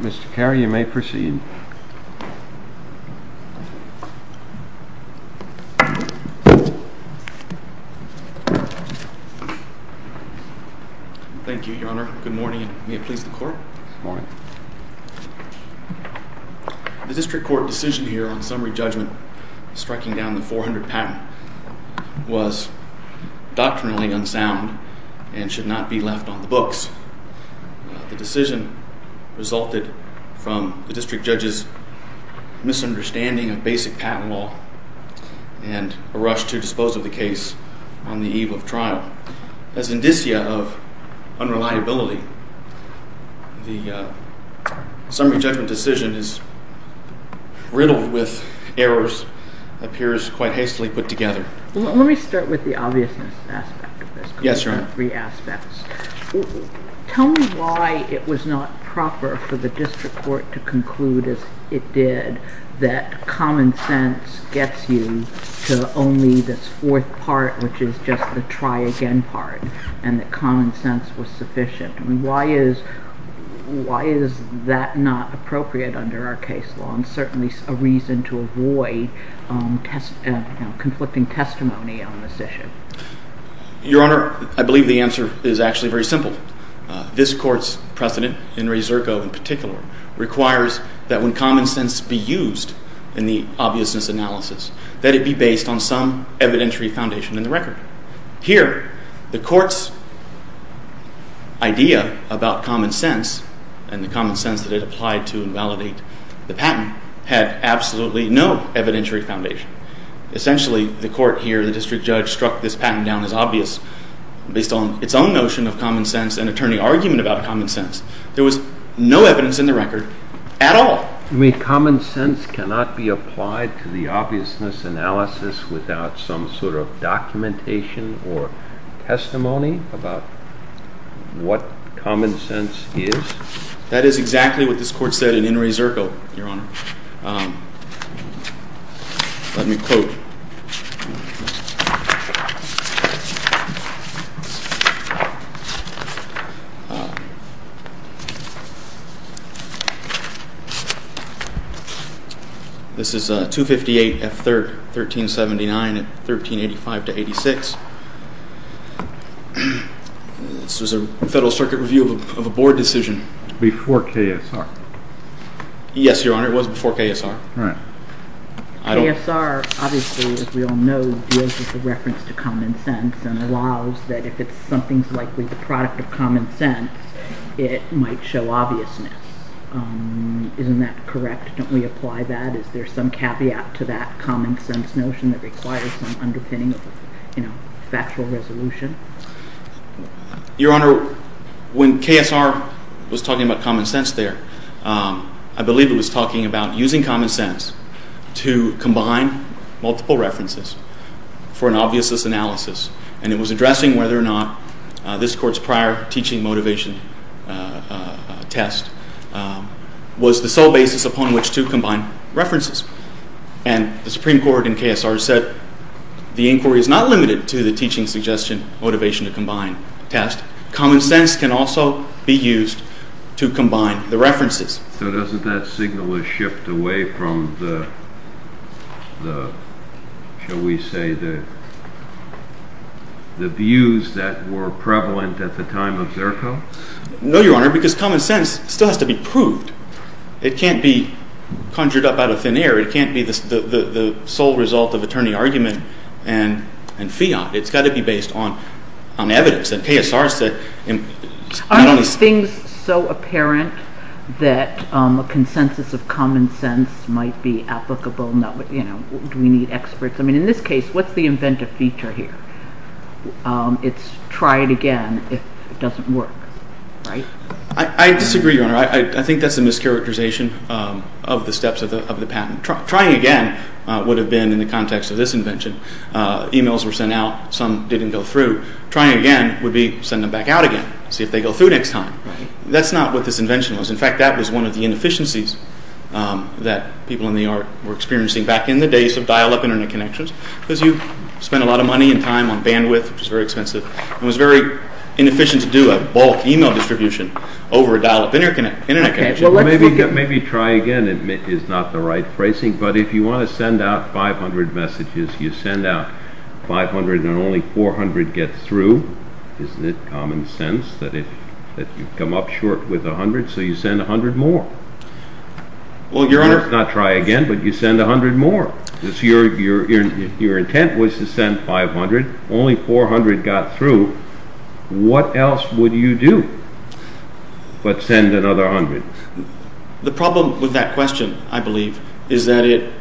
Mr. Carey, you may proceed. Thank you, Your Honor. Good morning, and may it please the Court. Good morning. The District Court decision here on summary judgment striking down the 400 patent was doctrinally unsound and should not be left on the books. The decision resulted from the District Judge's misunderstanding of basic patent law and a rush to dispose of the case on the eve of trial. As indicia of unreliability, the summary judgment decision is riddled with errors, appears quite hastily put together. Let me start with the obviousness aspect of this. Yes, Your Honor. Tell me why it was not proper for the District Court to conclude, as it did, that common sense gets you to only this fourth part, which is just the try-again part, and that common sense was sufficient. Why is that not appropriate under our case law and certainly a reason to avoid conflicting testimony on this issue? Your Honor, I believe the answer is actually very simple. This Court's precedent, in Reserco in particular, requires that when common sense be used in the obviousness analysis, that it be based on some evidentiary foundation in the record. Here, the Court's idea about common sense and the common sense that it applied to invalidate the patent had absolutely no evidentiary foundation. Essentially, the Court here, the District Judge, struck this patent down as obvious based on its own notion of common sense and attorney argument about common sense. There was no evidence in the record at all. You mean common sense cannot be applied to the obviousness analysis without some sort of documentation or testimony about what common sense is? That is exactly what this Court said in Reserco, Your Honor. Let me quote. This is 258F3rd 1379 and 1385-86. This was a Federal Circuit review of a Board decision. Before KSR? Yes, Your Honor. It was before KSR. Right. KSR, obviously, as we all know, deals with the reference to common sense and allows that if something's likely the product of common sense, it might show obviousness. Isn't that correct? Don't we apply that? Is there some caveat to that common sense notion that requires some underpinning of factual resolution? Your Honor, when KSR was talking about common sense there, I believe it was talking about using common sense to combine multiple references for an obviousness analysis. And it was addressing whether or not this Court's prior teaching motivation test was the sole basis upon which to combine references. And the Supreme Court in KSR said the inquiry is not limited to the teaching suggestion motivation to combine tests. Common sense can also be used to combine the references. So doesn't that signal a shift away from the, shall we say, the views that were prevalent at the time of Reserco? No, Your Honor, because common sense still has to be proved. It can't be conjured up out of thin air. It can't be the sole result of attorney argument and fiat. It's got to be based on evidence. And KSR said— Are these things so apparent that a consensus of common sense might be applicable? Do we need experts? I mean, in this case, what's the inventive feature here? It's try it again if it doesn't work, right? I disagree, Your Honor. I think that's a mischaracterization of the steps of the patent. Trying again would have been in the context of this invention. Emails were sent out. Some didn't go through. Trying again would be send them back out again, see if they go through next time. That's not what this invention was. In fact, that was one of the inefficiencies that people in the art were experiencing back in the days of dial-up Internet connections, because you spent a lot of money and time on bandwidth, which was very expensive, and it was very inefficient to do a bulk email distribution over a dial-up Internet connection. Well, maybe try again is not the right phrasing, but if you want to send out 500 messages, you send out 500 and only 400 get through. Isn't it common sense that if you come up short with 100, so you send 100 more? Well, Your Honor— It's not try again, but you send 100 more. Your intent was to send 500. Only 400 got through. What else would you do but send another 100? The problem with that question, I believe, is that it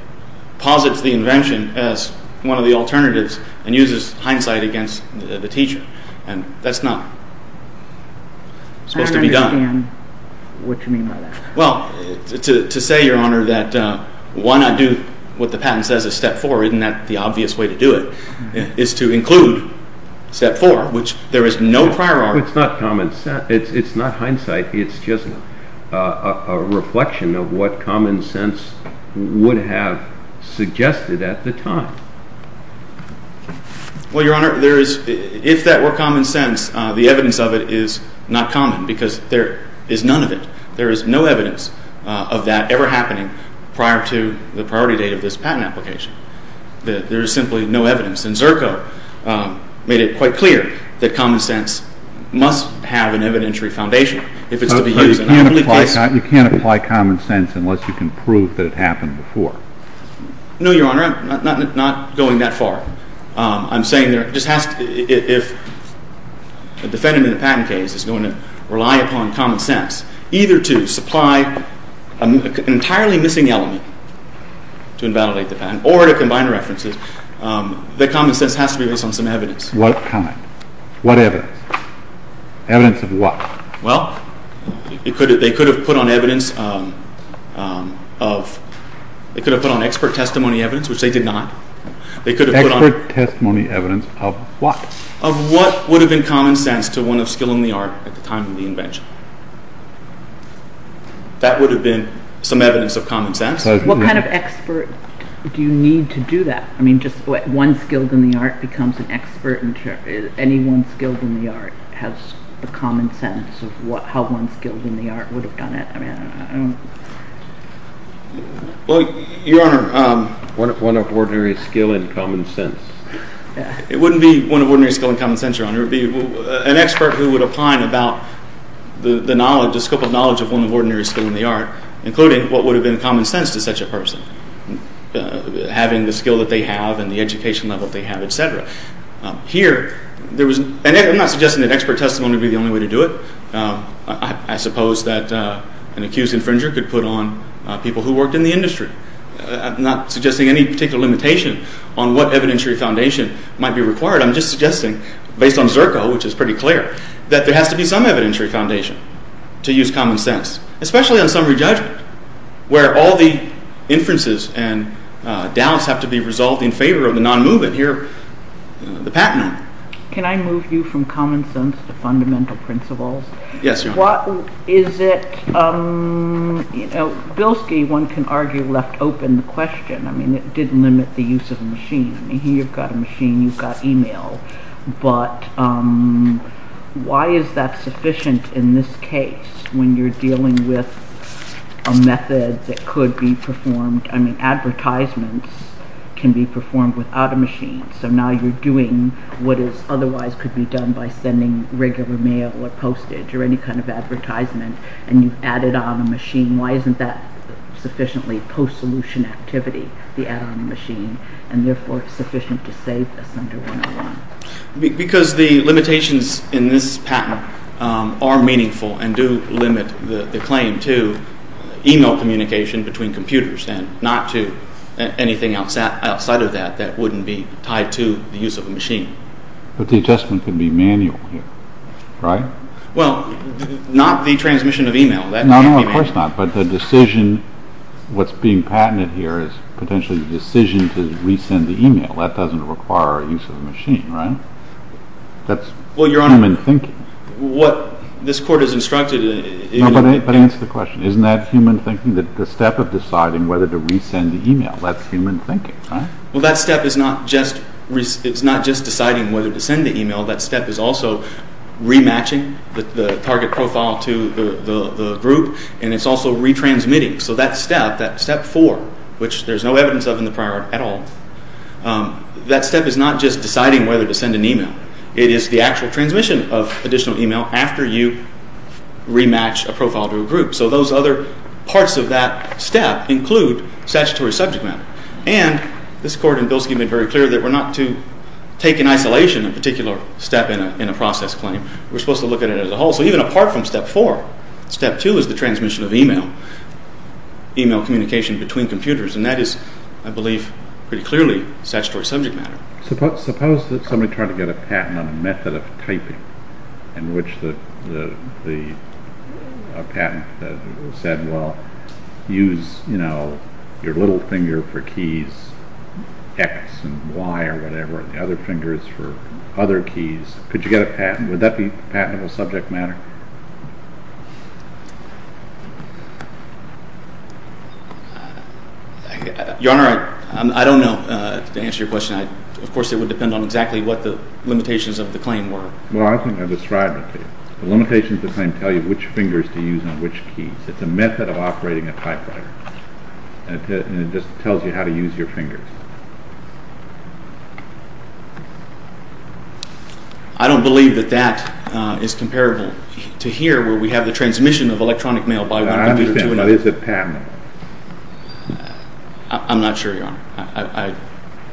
posits the invention as one of the alternatives and uses hindsight against the teacher, and that's not supposed to be done. I don't understand what you mean by that. Well, to say, Your Honor, that why not do what the patent says is step four, isn't that the obvious way to do it, is to include step four, which there is no priority. It's not hindsight. It's just a reflection of what common sense would have suggested at the time. Well, Your Honor, if that were common sense, the evidence of it is not common because there is none of it. There is no evidence of that ever happening prior to the priority date of this patent application. There is simply no evidence. And Zerko made it quite clear that common sense must have an evidentiary foundation if it's to be used. You can't apply common sense unless you can prove that it happened before. No, Your Honor, I'm not going that far. I'm saying if a defendant in a patent case is going to rely upon common sense, either to supply an entirely missing element to invalidate the patent or to combine references, that common sense has to be based on some evidence. What evidence? Evidence of what? Well, they could have put on expert testimony evidence, which they did not. Expert testimony evidence of what? Of what would have been common sense to one of skill in the art at the time of the invention. That would have been some evidence of common sense. What kind of expert do you need to do that? I mean, just one skilled in the art becomes an expert. Anyone skilled in the art has the common sense of how one skilled in the art would have done it. Well, Your Honor. One of ordinary skill in common sense. It wouldn't be one of ordinary skill in common sense, Your Honor. It would be an expert who would opine about the scope of knowledge of one of ordinary skill in the art, including what would have been common sense to such a person, having the skill that they have and the education level that they have, et cetera. Here, I'm not suggesting that expert testimony would be the only way to do it. I suppose that an accused infringer could put on people who worked in the industry. I'm not suggesting any particular limitation on what evidentiary foundation might be required. I'm just suggesting, based on Zerko, which is pretty clear, that there has to be some evidentiary foundation to use common sense, especially on summary judgment, where all the inferences and doubts have to be resolved in favor of the non-movement. Here, the patent. Can I move you from common sense to fundamental principles? Yes, Your Honor. Bilski, one can argue, left open the question. I mean, it did limit the use of a machine. Here, you've got a machine. You've got email. But why is that sufficient in this case, when you're dealing with a method that could be performed? I mean, advertisements can be performed without a machine. So now you're doing what otherwise could be done by sending regular mail or postage or any kind of advertisement, and you've added on a machine. Why isn't that sufficiently post-solution activity, the add-on machine, and therefore sufficient to save us under 101? Because the limitations in this patent are meaningful and do limit the claim to email communication between computers and not to anything outside of that that wouldn't be tied to the use of a machine. But the adjustment can be manual here, right? Well, not the transmission of email. No, no, of course not. But the decision, what's being patented here, is potentially the decision to resend the email. That doesn't require a use of a machine, right? That's human thinking. Well, Your Honor, what this Court has instructed... No, but answer the question. Isn't that human thinking, the step of deciding whether to resend the email? That's human thinking, right? Well, that step is not just deciding whether to send the email. That step is also rematching the target profile to the group, and it's also retransmitting. So that step, that step four, which there's no evidence of in the prior at all, that step is not just deciding whether to send an email. after you rematch a profile to a group. So those other parts of that step include statutory subject matter. And this Court in Bilski made very clear that we're not to take in isolation a particular step in a process claim. We're supposed to look at it as a whole. So even apart from step four, step two is the transmission of email, email communication between computers, and that is, I believe, pretty clearly statutory subject matter. Suppose that somebody tried to get a patent on a method of typing in which the patent said, well, use your little finger for keys X and Y or whatever, and the other fingers for other keys. Could you get a patent? Would that be patentable subject matter? Your Honor, I don't know, to answer your question. Of course, it would depend on exactly what the limitations of the claim were. Well, I think I described it to you. The limitations of the claim tell you which fingers to use on which keys. It's a method of operating a typewriter, and it just tells you how to use your fingers. I don't believe that that is comparable to here where we have the transmission of electronic mail by one computer to another. I understand, but is it patentable? I'm not sure, Your Honor.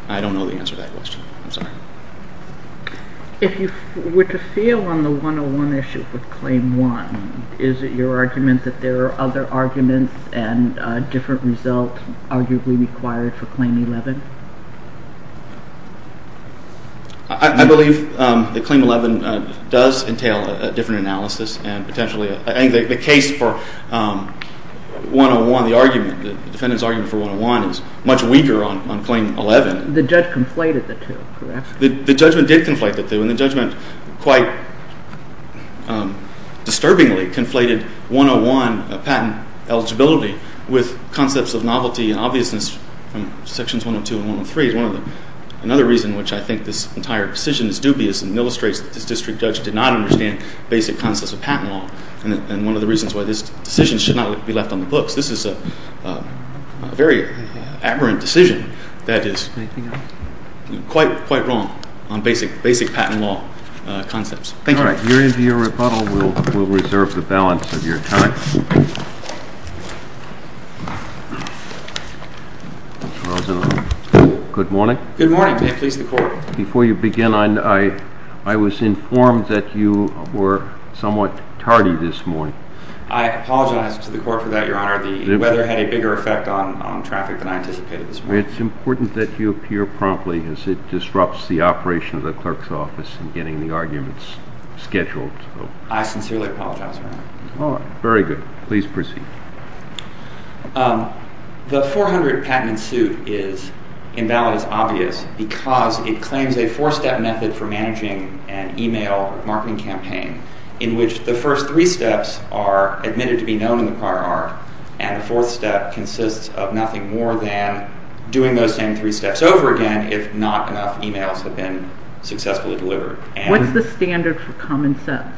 I don't know the answer to that question. I'm sorry. If you were to feel on the 101 issue with Claim 1, is it your argument that there are other arguments and a different result arguably required for Claim 11? I believe that Claim 11 does entail a different analysis, and potentially I think the case for 101, the argument, the defendant's argument for 101 is much weaker on Claim 11. The judge conflated the two, correct? The judgment did conflate the two, and the judgment quite disturbingly conflated 101 patent eligibility with concepts of novelty and obviousness from Sections 102 and 103. Another reason which I think this entire decision is dubious and illustrates that this district judge did not understand basic concepts of patent law, and one of the reasons why this decision should not be left on the books. This is a very aberrant decision that is quite wrong on basic patent law concepts. Thank you. All right. We're into your rebuttal. We'll reserve the balance of your time. Good morning. Good morning. May it please the Court. Before you begin, I was informed that you were somewhat tardy this morning. I apologize to the Court for that, Your Honor. The weather had a bigger effect on traffic than I anticipated this morning. It's important that you appear promptly, as it disrupts the operation of the clerk's office in getting the arguments scheduled. I sincerely apologize, Your Honor. All right. Very good. Please proceed. The 400 patent in suit is invalid as obvious because it claims a four-step method for managing an email marketing campaign in which the first three steps are admitted to be known in the prior art, and the fourth step consists of nothing more than doing those same three steps over again if not enough emails have been successfully delivered. What's the standard for common sense?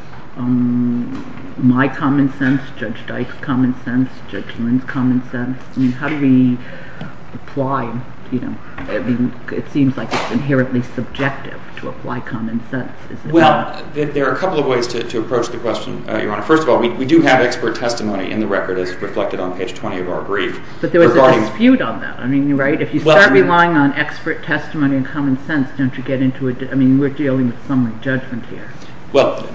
My common sense, Judge Dyke's common sense, Judge Lynn's common sense? I mean, how do we apply, you know, I mean, it seems like it's inherently subjective to apply common sense. Well, there are a couple of ways to approach the question, Your Honor. First of all, we do have expert testimony in the record as reflected on page 20 of our brief. But there was a dispute on that. I mean, right? If you start relying on expert testimony and common sense, don't you get into a, I mean, we're dealing with summary judgment here. Well,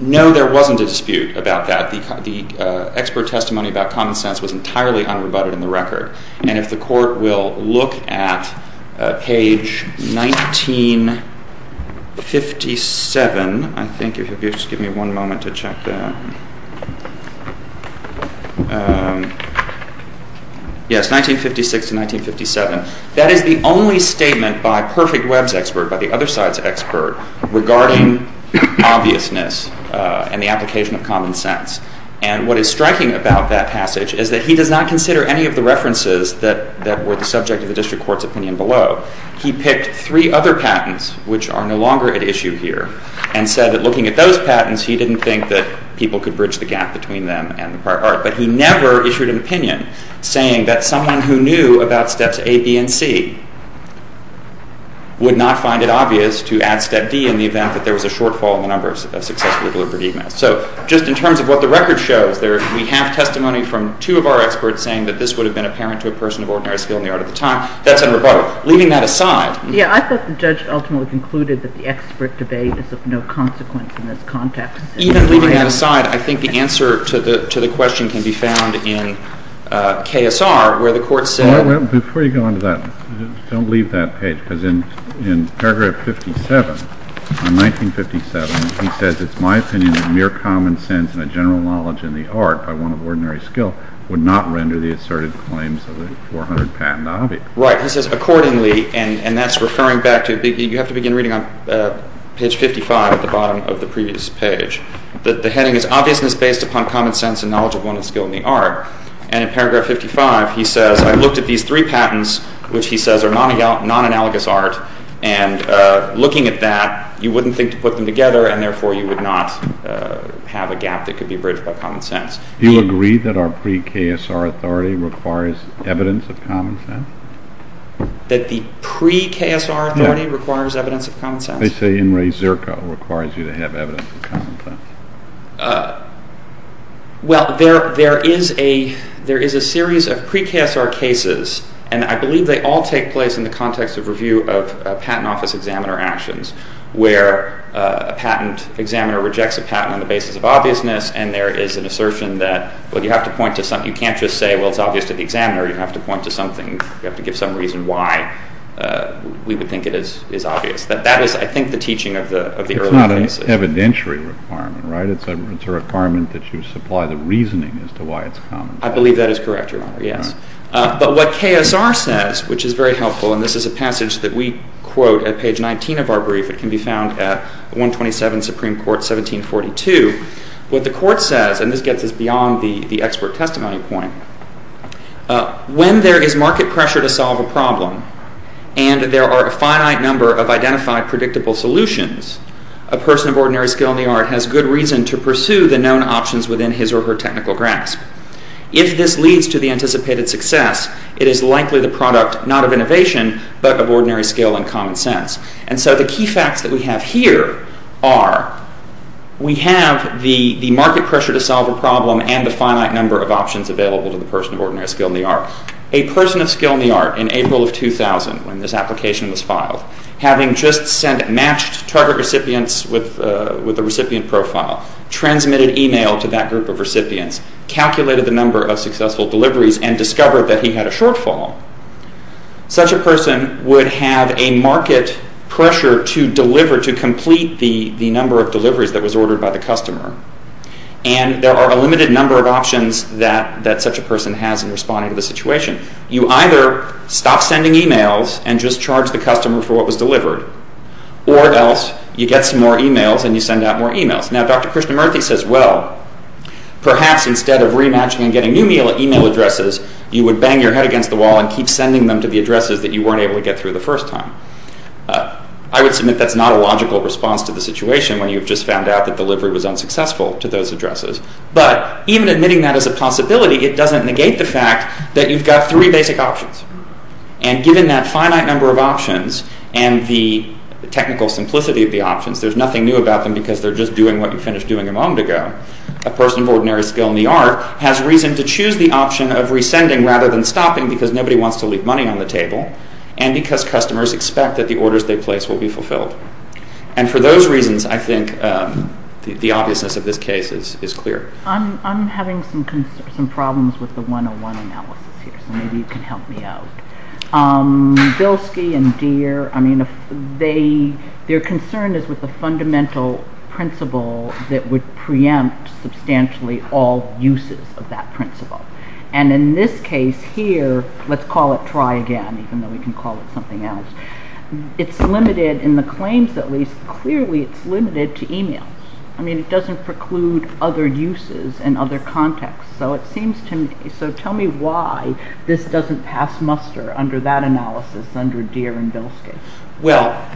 no, there wasn't a dispute about that. The expert testimony about common sense was entirely unrebutted in the record. And if the court will look at page 1957, I think, if you'll just give me one moment to check that. Yes, 1956 to 1957. That is the only statement by Perfect Web's expert, by the other side's expert, regarding obviousness and the application of common sense. And what is striking about that passage is that he does not consider any of the references that were the subject of the district court's opinion below. He picked three other patents, which are no longer at issue here, and said that looking at those patents, he didn't think that people could bridge the gap between them and the prior art. But he never issued an opinion saying that someone who knew about steps A, B, and C would not find it obvious to add step D in the event that there was a shortfall in the number of successfully delivered emails. So just in terms of what the record shows, we have testimony from two of our experts saying that this would have been apparent to a person of ordinary skill in the art of the time. That's unrebutted. Leaving that aside... Yeah, I thought the judge ultimately concluded that the expert debate is of no consequence in this context. Even leaving that aside, I think the answer to the question can be found in KSR, where the court said... Before you go on to that, don't leave that page, because in paragraph 57, on 1957, he says, it's my opinion that mere common sense and a general knowledge in the art by one of ordinary skill would not render the asserted claims of the 400 patent obvious. Right. He says, accordingly, and that's referring back to... You have to begin reading on page 55 at the bottom of the previous page. The heading is, Obviousness based upon common sense and knowledge of one of skill in the art. And in paragraph 55, he says, I looked at these three patents, which he says are non-analogous art, and looking at that, you wouldn't think to put them together, and therefore you would not have a gap that could be bridged by common sense. Do you agree that our pre-KSR authority requires evidence of common sense? That the pre-KSR authority requires evidence of common sense? They say In Re Zerko requires you to have evidence of common sense. Well, there is a series of pre-KSR cases, and I believe they all take place in the context of review of patent office examiner actions, where a patent examiner rejects a patent on the basis of obviousness, and there is an assertion that, well, you have to point to something. You can't just say, well, it's obvious to the examiner. You have to point to something. You have to give some reason why we would think it is obvious. That is, I think, the teaching of the early cases. It's an evidentiary requirement, right? It's a requirement that you supply the reasoning as to why it's common sense. I believe that is correct, Your Honor, yes. But what KSR says, which is very helpful, and this is a passage that we quote at page 19 of our brief. It can be found at 127 Supreme Court, 1742. What the Court says, and this gets us beyond the expert testimony point, when there is market pressure to solve a problem and there are a finite number of identified predictable solutions, a person of ordinary skill in the art has good reason to pursue the known options within his or her technical grasp. If this leads to the anticipated success, it is likely the product not of innovation, but of ordinary skill and common sense. And so the key facts that we have here are, we have the market pressure to solve a problem and the finite number of options available to the person of ordinary skill in the art. A person of skill in the art in April of 2000, when this application was filed, having just sent matched target recipients with the recipient profile, transmitted email to that group of recipients, calculated the number of successful deliveries, and discovered that he had a shortfall, such a person would have a market pressure to deliver, to complete the number of deliveries that was ordered by the customer. And there are a limited number of options that such a person has in responding to the situation. You either stop sending emails and just charge the customer for what was delivered, or else you get some more emails and you send out more emails. Now, Dr. Krishnamurti says, well, perhaps instead of rematching and getting new email addresses, you would bang your head against the wall and keep sending them to the addresses that you weren't able to get through the first time. I would submit that's not a logical response to the situation when you've just found out that delivery was unsuccessful to those addresses. But even admitting that as a possibility, it doesn't negate the fact that you've got three basic options. And given that finite number of options and the technical simplicity of the options, there's nothing new about them because they're just doing what you finished doing a moment ago. A person of ordinary skill in the art has reason to choose the option of rescinding rather than stopping because nobody wants to leave money on the table, and because customers expect that the orders they place will be fulfilled. And for those reasons, I think the obviousness of this case is clear. I'm having some problems with the 101 analysis here, so maybe you can help me out. Bilski and Deer, I mean, their concern is with the fundamental principle that would preempt substantially all uses of that principle. And in this case here, let's call it try again, even though we can call it something else. It's limited, in the claims at least, clearly it's limited to emails. I mean, it doesn't preclude other uses and other contexts. So tell me why this doesn't pass muster under that analysis, under Deer and Bilski. Well,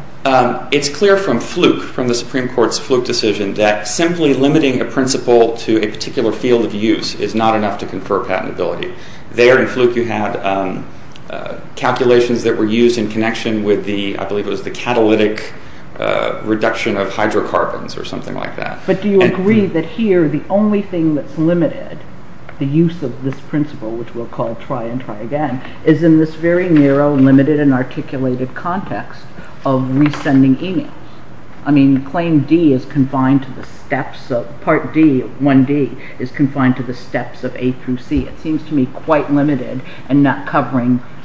it's clear from Fluke, from the Supreme Court's Fluke decision, that simply limiting a principle to a particular field of use is not enough to confer patentability. There in Fluke you had calculations that were used in connection with the, I believe it was the catalytic reduction of hydrocarbons or something like that. But do you agree that here the only thing that's limited, the use of this principle, which we'll call try and try again, is in this very narrow, limited and articulated context of resending emails? I mean, claim D is confined to the steps of, part D, 1D, is confined to the steps of A through C. It seems to me quite limited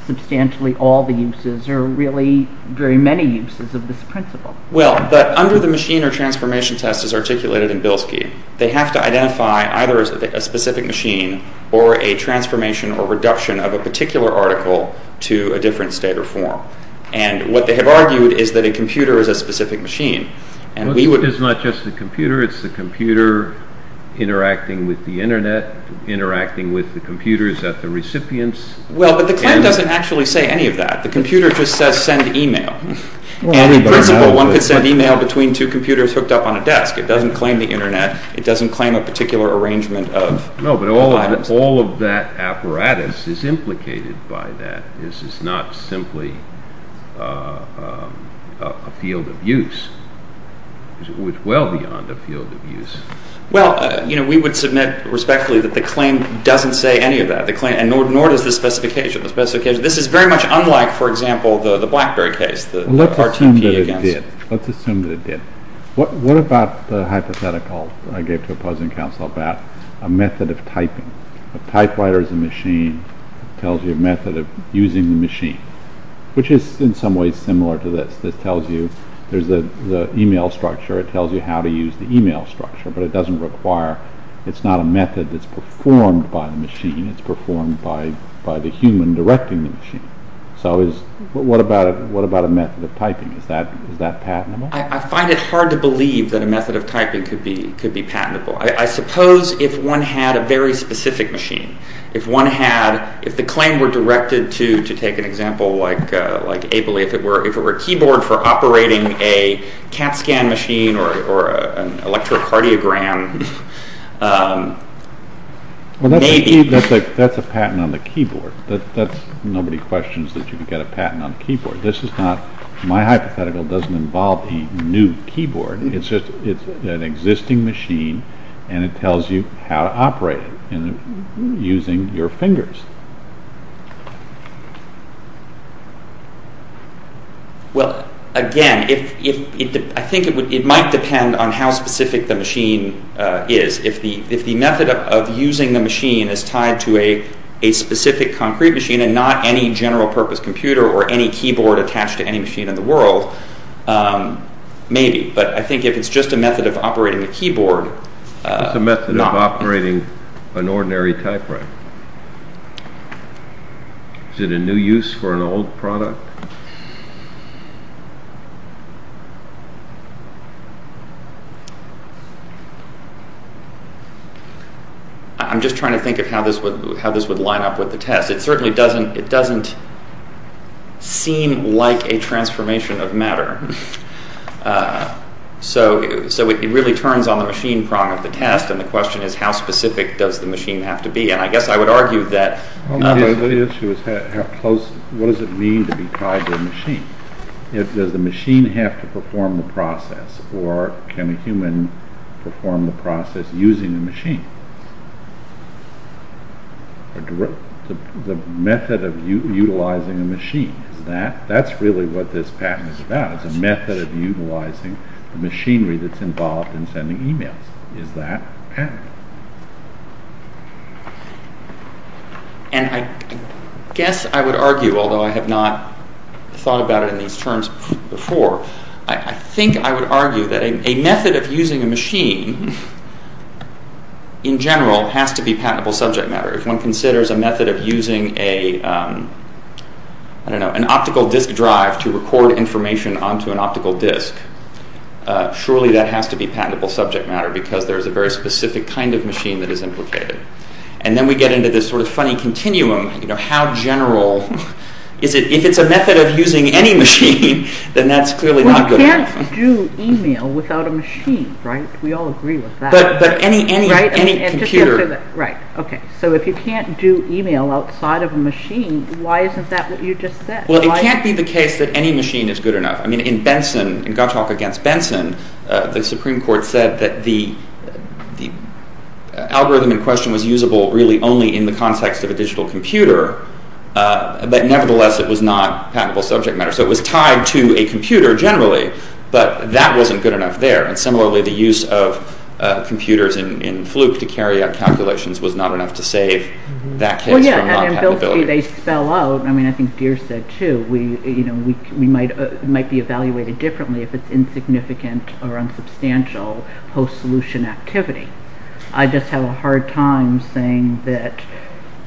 or really very many uses of this principle. Well, but under the machine or transformation test as articulated in Bilski, they have to identify either a specific machine or a transformation or reduction of a particular article to a different state or form. And what they have argued is that a computer is a specific machine. It's not just the computer, it's the computer interacting with the Internet, interacting with the computers at the recipients. Well, but the claim doesn't actually say any of that. The computer just says send email. And in principle, one could send email between two computers hooked up on a desk. It doesn't claim the Internet. It doesn't claim a particular arrangement of items. No, but all of that apparatus is implicated by that. This is not simply a field of use. It's well beyond a field of use. Well, you know, we would submit respectfully that the claim doesn't say any of that, nor does the specification. This is very much unlike, for example, the Blackberry case, the RTP against... Let's assume that it did. What about the hypothetical I gave to a present counsel about a method of typing? A typewriter is a machine that tells you a method of using the machine, which is in some ways similar to this. This tells you there's the email structure. It tells you how to use the email structure, but it doesn't require... It's not a method that's performed by the machine. It's performed by the human directing the machine. So what about a method of typing? Is that patentable? I find it hard to believe that a method of typing could be patentable. I suppose if one had a very specific machine, if one had... If the claim were directed to, to take an example like Abley, if it were a keyboard for operating a CAT scan machine or an electrocardiogram, maybe... Well, that's a patent on the keyboard. Nobody questions that you could get a patent on a keyboard. This is not... My hypothetical doesn't involve a new keyboard. It's just an existing machine, and it tells you how to operate it using your fingers. Well, again, if... I think it might depend on how specific the machine is. If the method of using the machine is tied to a specific concrete machine and not any general-purpose computer or any keyboard attached to any machine in the world, maybe. But I think if it's just a method of operating a keyboard... It's a method of operating an ordinary typewriter. Is it a new use for an old product? I'm just trying to think of how this would line up with the test. It certainly doesn't... It doesn't seem like a transformation of matter. So it really turns on the machine prong of the test, and the question is, how specific does the machine have to be? And I guess I would argue that... The issue is how close... What does it mean to be tied to a machine? Does the machine have to perform the process, or can a human perform the process using a machine? The method of utilizing a machine, that's really what this patent is about. It's a method of utilizing the machinery that's involved in sending emails. Is that patent? And I guess I would argue, although I have not thought about it in these terms before, I think I would argue that a method of using a machine, in general, has to be patentable subject matter. If one considers a method of using a... I don't know, an optical disk drive to record information onto an optical disk, surely that has to be patentable subject matter, because there's a very specific kind of machine that is implicated. And then we get into this sort of funny continuum, you know, how general... If it's a method of using any machine, then that's clearly not good enough. Well, you can't do email without a machine, right? We all agree with that. But any computer... Right, okay. So if you can't do email outside of a machine, why isn't that what you just said? Well, it can't be the case that any machine is good enough. I mean, in Benson, in Gottschalk against Benson, the Supreme Court said that the algorithm in question was usable really only in the context of a digital computer, but nevertheless it was not patentable subject matter. So it was tied to a computer generally, but that wasn't good enough there. And similarly, the use of computers in Fluke to carry out calculations was not enough to save that case from not patentability. Well, yeah, and they spell out... I mean, I think Deer said, too, we might be evaluated differently if it's insignificant or unsubstantial post-solution activity. I just have a hard time saying that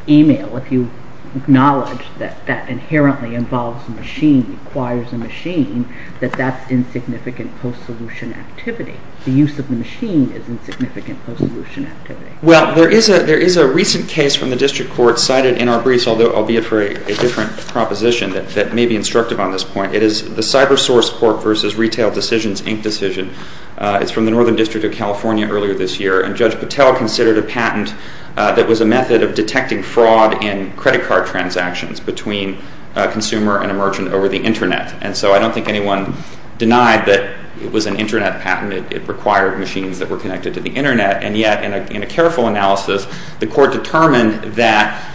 email, if you acknowledge that that inherently involves a machine, requires a machine, that that's insignificant post-solution activity. The use of the machine is insignificant post-solution activity. Well, there is a recent case from the District Court cited in our briefs, although I'll be it for a different proposition that may be instructive on this point. It is the Cyber Source Corp. v. Retail Decisions, Inc. decision. It's from the Northern District of California earlier this year, and Judge Patel considered a patent that was a method of detecting fraud in credit card transactions between a consumer and a merchant over the Internet. And so I don't think anyone denied that it was an Internet patent. It required machines that were connected to the Internet. And yet, in a careful analysis, the Court determined that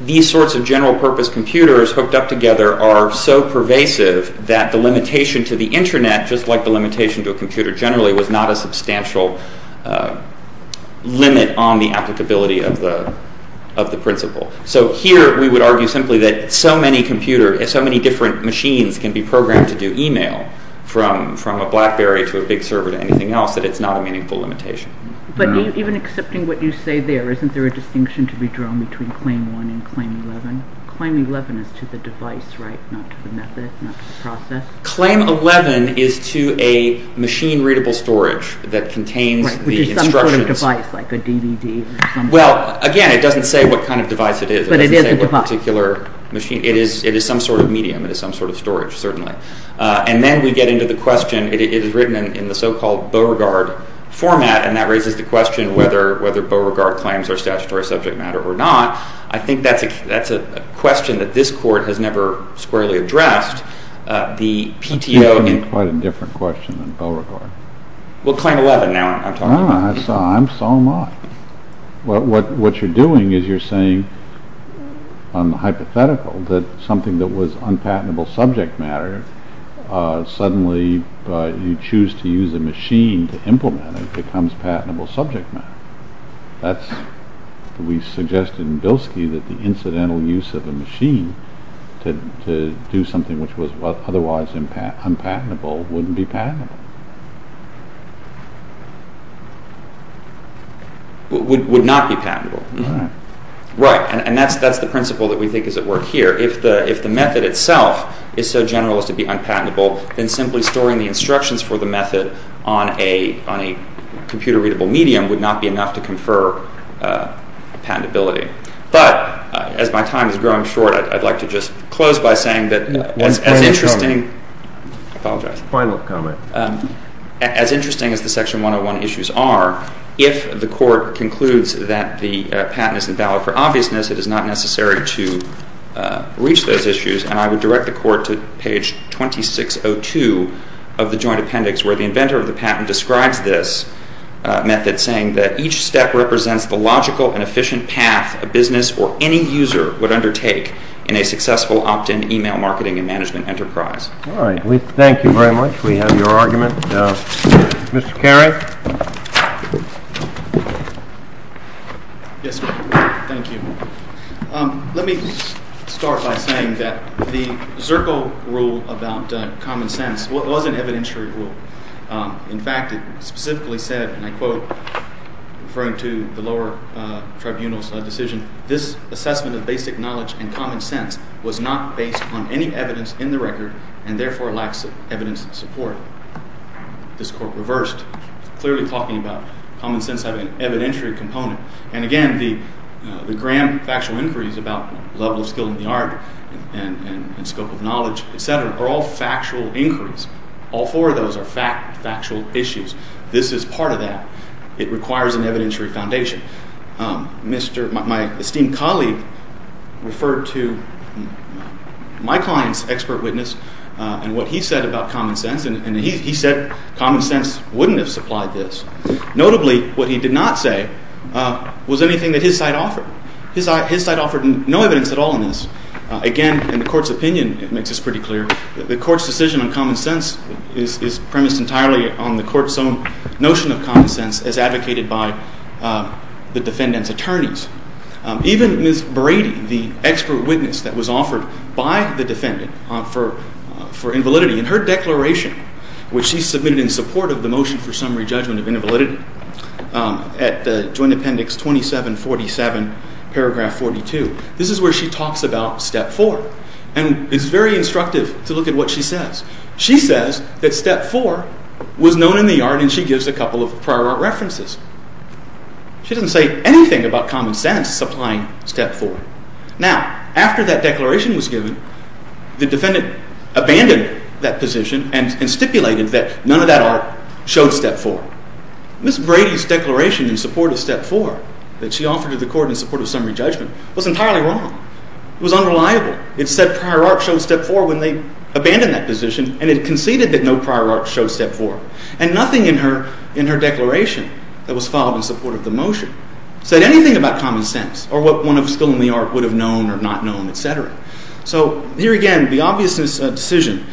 these sorts of general-purpose computers hooked up together are so pervasive that the limitation to the Internet, just like the limitation to a computer generally, was not a substantial limit on the applicability of the principle. So here we would argue simply that so many computers, so many different machines can be programmed to do e-mail from a BlackBerry to a big server to anything else that it's not a meaningful limitation. But even accepting what you say there, isn't there a distinction to be drawn between Claim 1 and Claim 11? Claim 11 is to the device, right? Not to the method, not to the process? Claim 11 is to a machine-readable storage that contains the instructions. Right, which is some sort of device, like a DVD or something. Well, again, it doesn't say what kind of device it is. It doesn't say what particular machine. It is some sort of medium. It is some sort of storage, certainly. And then we get into the question, it is written in the so-called Beauregard format, and that raises the question whether Beauregard claims are statutory subject matter or not. I think that's a question that this Court has never squarely addressed. It seems to me quite a different question than Beauregard. Well, Claim 11, now I'm talking about. I'm so am I. What you're doing is you're saying, on the hypothetical, that something that was unpatentable subject matter, suddenly you choose to use a machine to implement it becomes patentable subject matter. We suggested in Bilski that the incidental use of a machine to do something which was otherwise unpatentable wouldn't be patentable. Would not be patentable. Right. Right, and that's the principle that we think is at work here. If the method itself is so general as to be unpatentable, then simply storing the instructions for the method on a computer-readable medium would not be enough to confer patentability. But, as my time has grown short, I'd like to just close by saying that as interesting... One final comment. I apologize. Final comment. As interesting as the Section 101 issues are, if the Court concludes that the patent is invalid for obviousness, it is not necessary to reach those issues. And I would direct the Court to page 2602 of the Joint Appendix, where the inventor of the patent describes this method, saying that each step represents the logical and efficient path a business or any user would undertake in a successful opt-in email marketing and management enterprise. All right. Thank you very much. We have your argument. Mr. Carey. Yes, sir. Thank you. Let me start by saying that the Zerkle rule about common sense was an evidentiary rule. In fact, it specifically said, and I quote, referring to the lower tribunal's decision, this assessment of basic knowledge and common sense was not based on any evidence in the record and therefore lacks evidence support. This Court reversed, clearly talking about common sense having an evidentiary component. And, again, the Graham factual inquiries about level of skill in the art and scope of knowledge, etc., are all factual inquiries. All four of those are factual issues. This is part of that. It requires an evidentiary foundation. My esteemed colleague referred to my client's expert witness and what he said about common sense, and he said common sense wouldn't have supplied this. Notably, what he did not say was anything that his side offered. His side offered no evidence at all in this. Again, in the Court's opinion, it makes this pretty clear, the Court's decision on common sense is premised entirely on the Court's own notion of common sense as advocated by the defendant's attorneys. Even Ms. Brady, the expert witness that was offered by the defendant for invalidity, in her declaration, which she submitted in support of the motion for summary judgment of invalidity at Joint Appendix 2747, paragraph 42, this is where she talks about step 4 and is very instructive to look at what she says. She says that step 4 was known in the art and she gives a couple of prior art references. She doesn't say anything about common sense supplying step 4. Now, after that declaration was given, the defendant abandoned that position and stipulated that none of that art showed step 4. Ms. Brady's declaration in support of step 4 that she offered to the Court in support of summary judgment was entirely wrong. It was unreliable. It said prior art showed step 4 when they abandoned that position and it conceded that no prior art showed step 4. And nothing in her declaration that was filed in support of the motion said anything about common sense or what one of us still in the art would have known or not known, etc. So, here again, the obviousness of the decision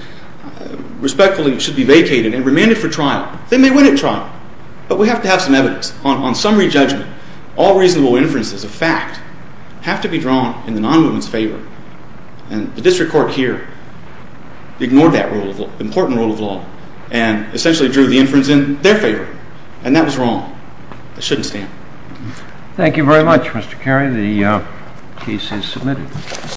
respectfully should be vacated and remanded for trial. They may win at trial, but we have to have some evidence. On summary judgment, all reasonable inferences of fact have to be drawn in the non-movement's favor. And the district court here ignored that important rule of law and essentially drew the inference in their favor. And that was wrong. It shouldn't stand. Thank you very much, Mr. Carey. The case is submitted.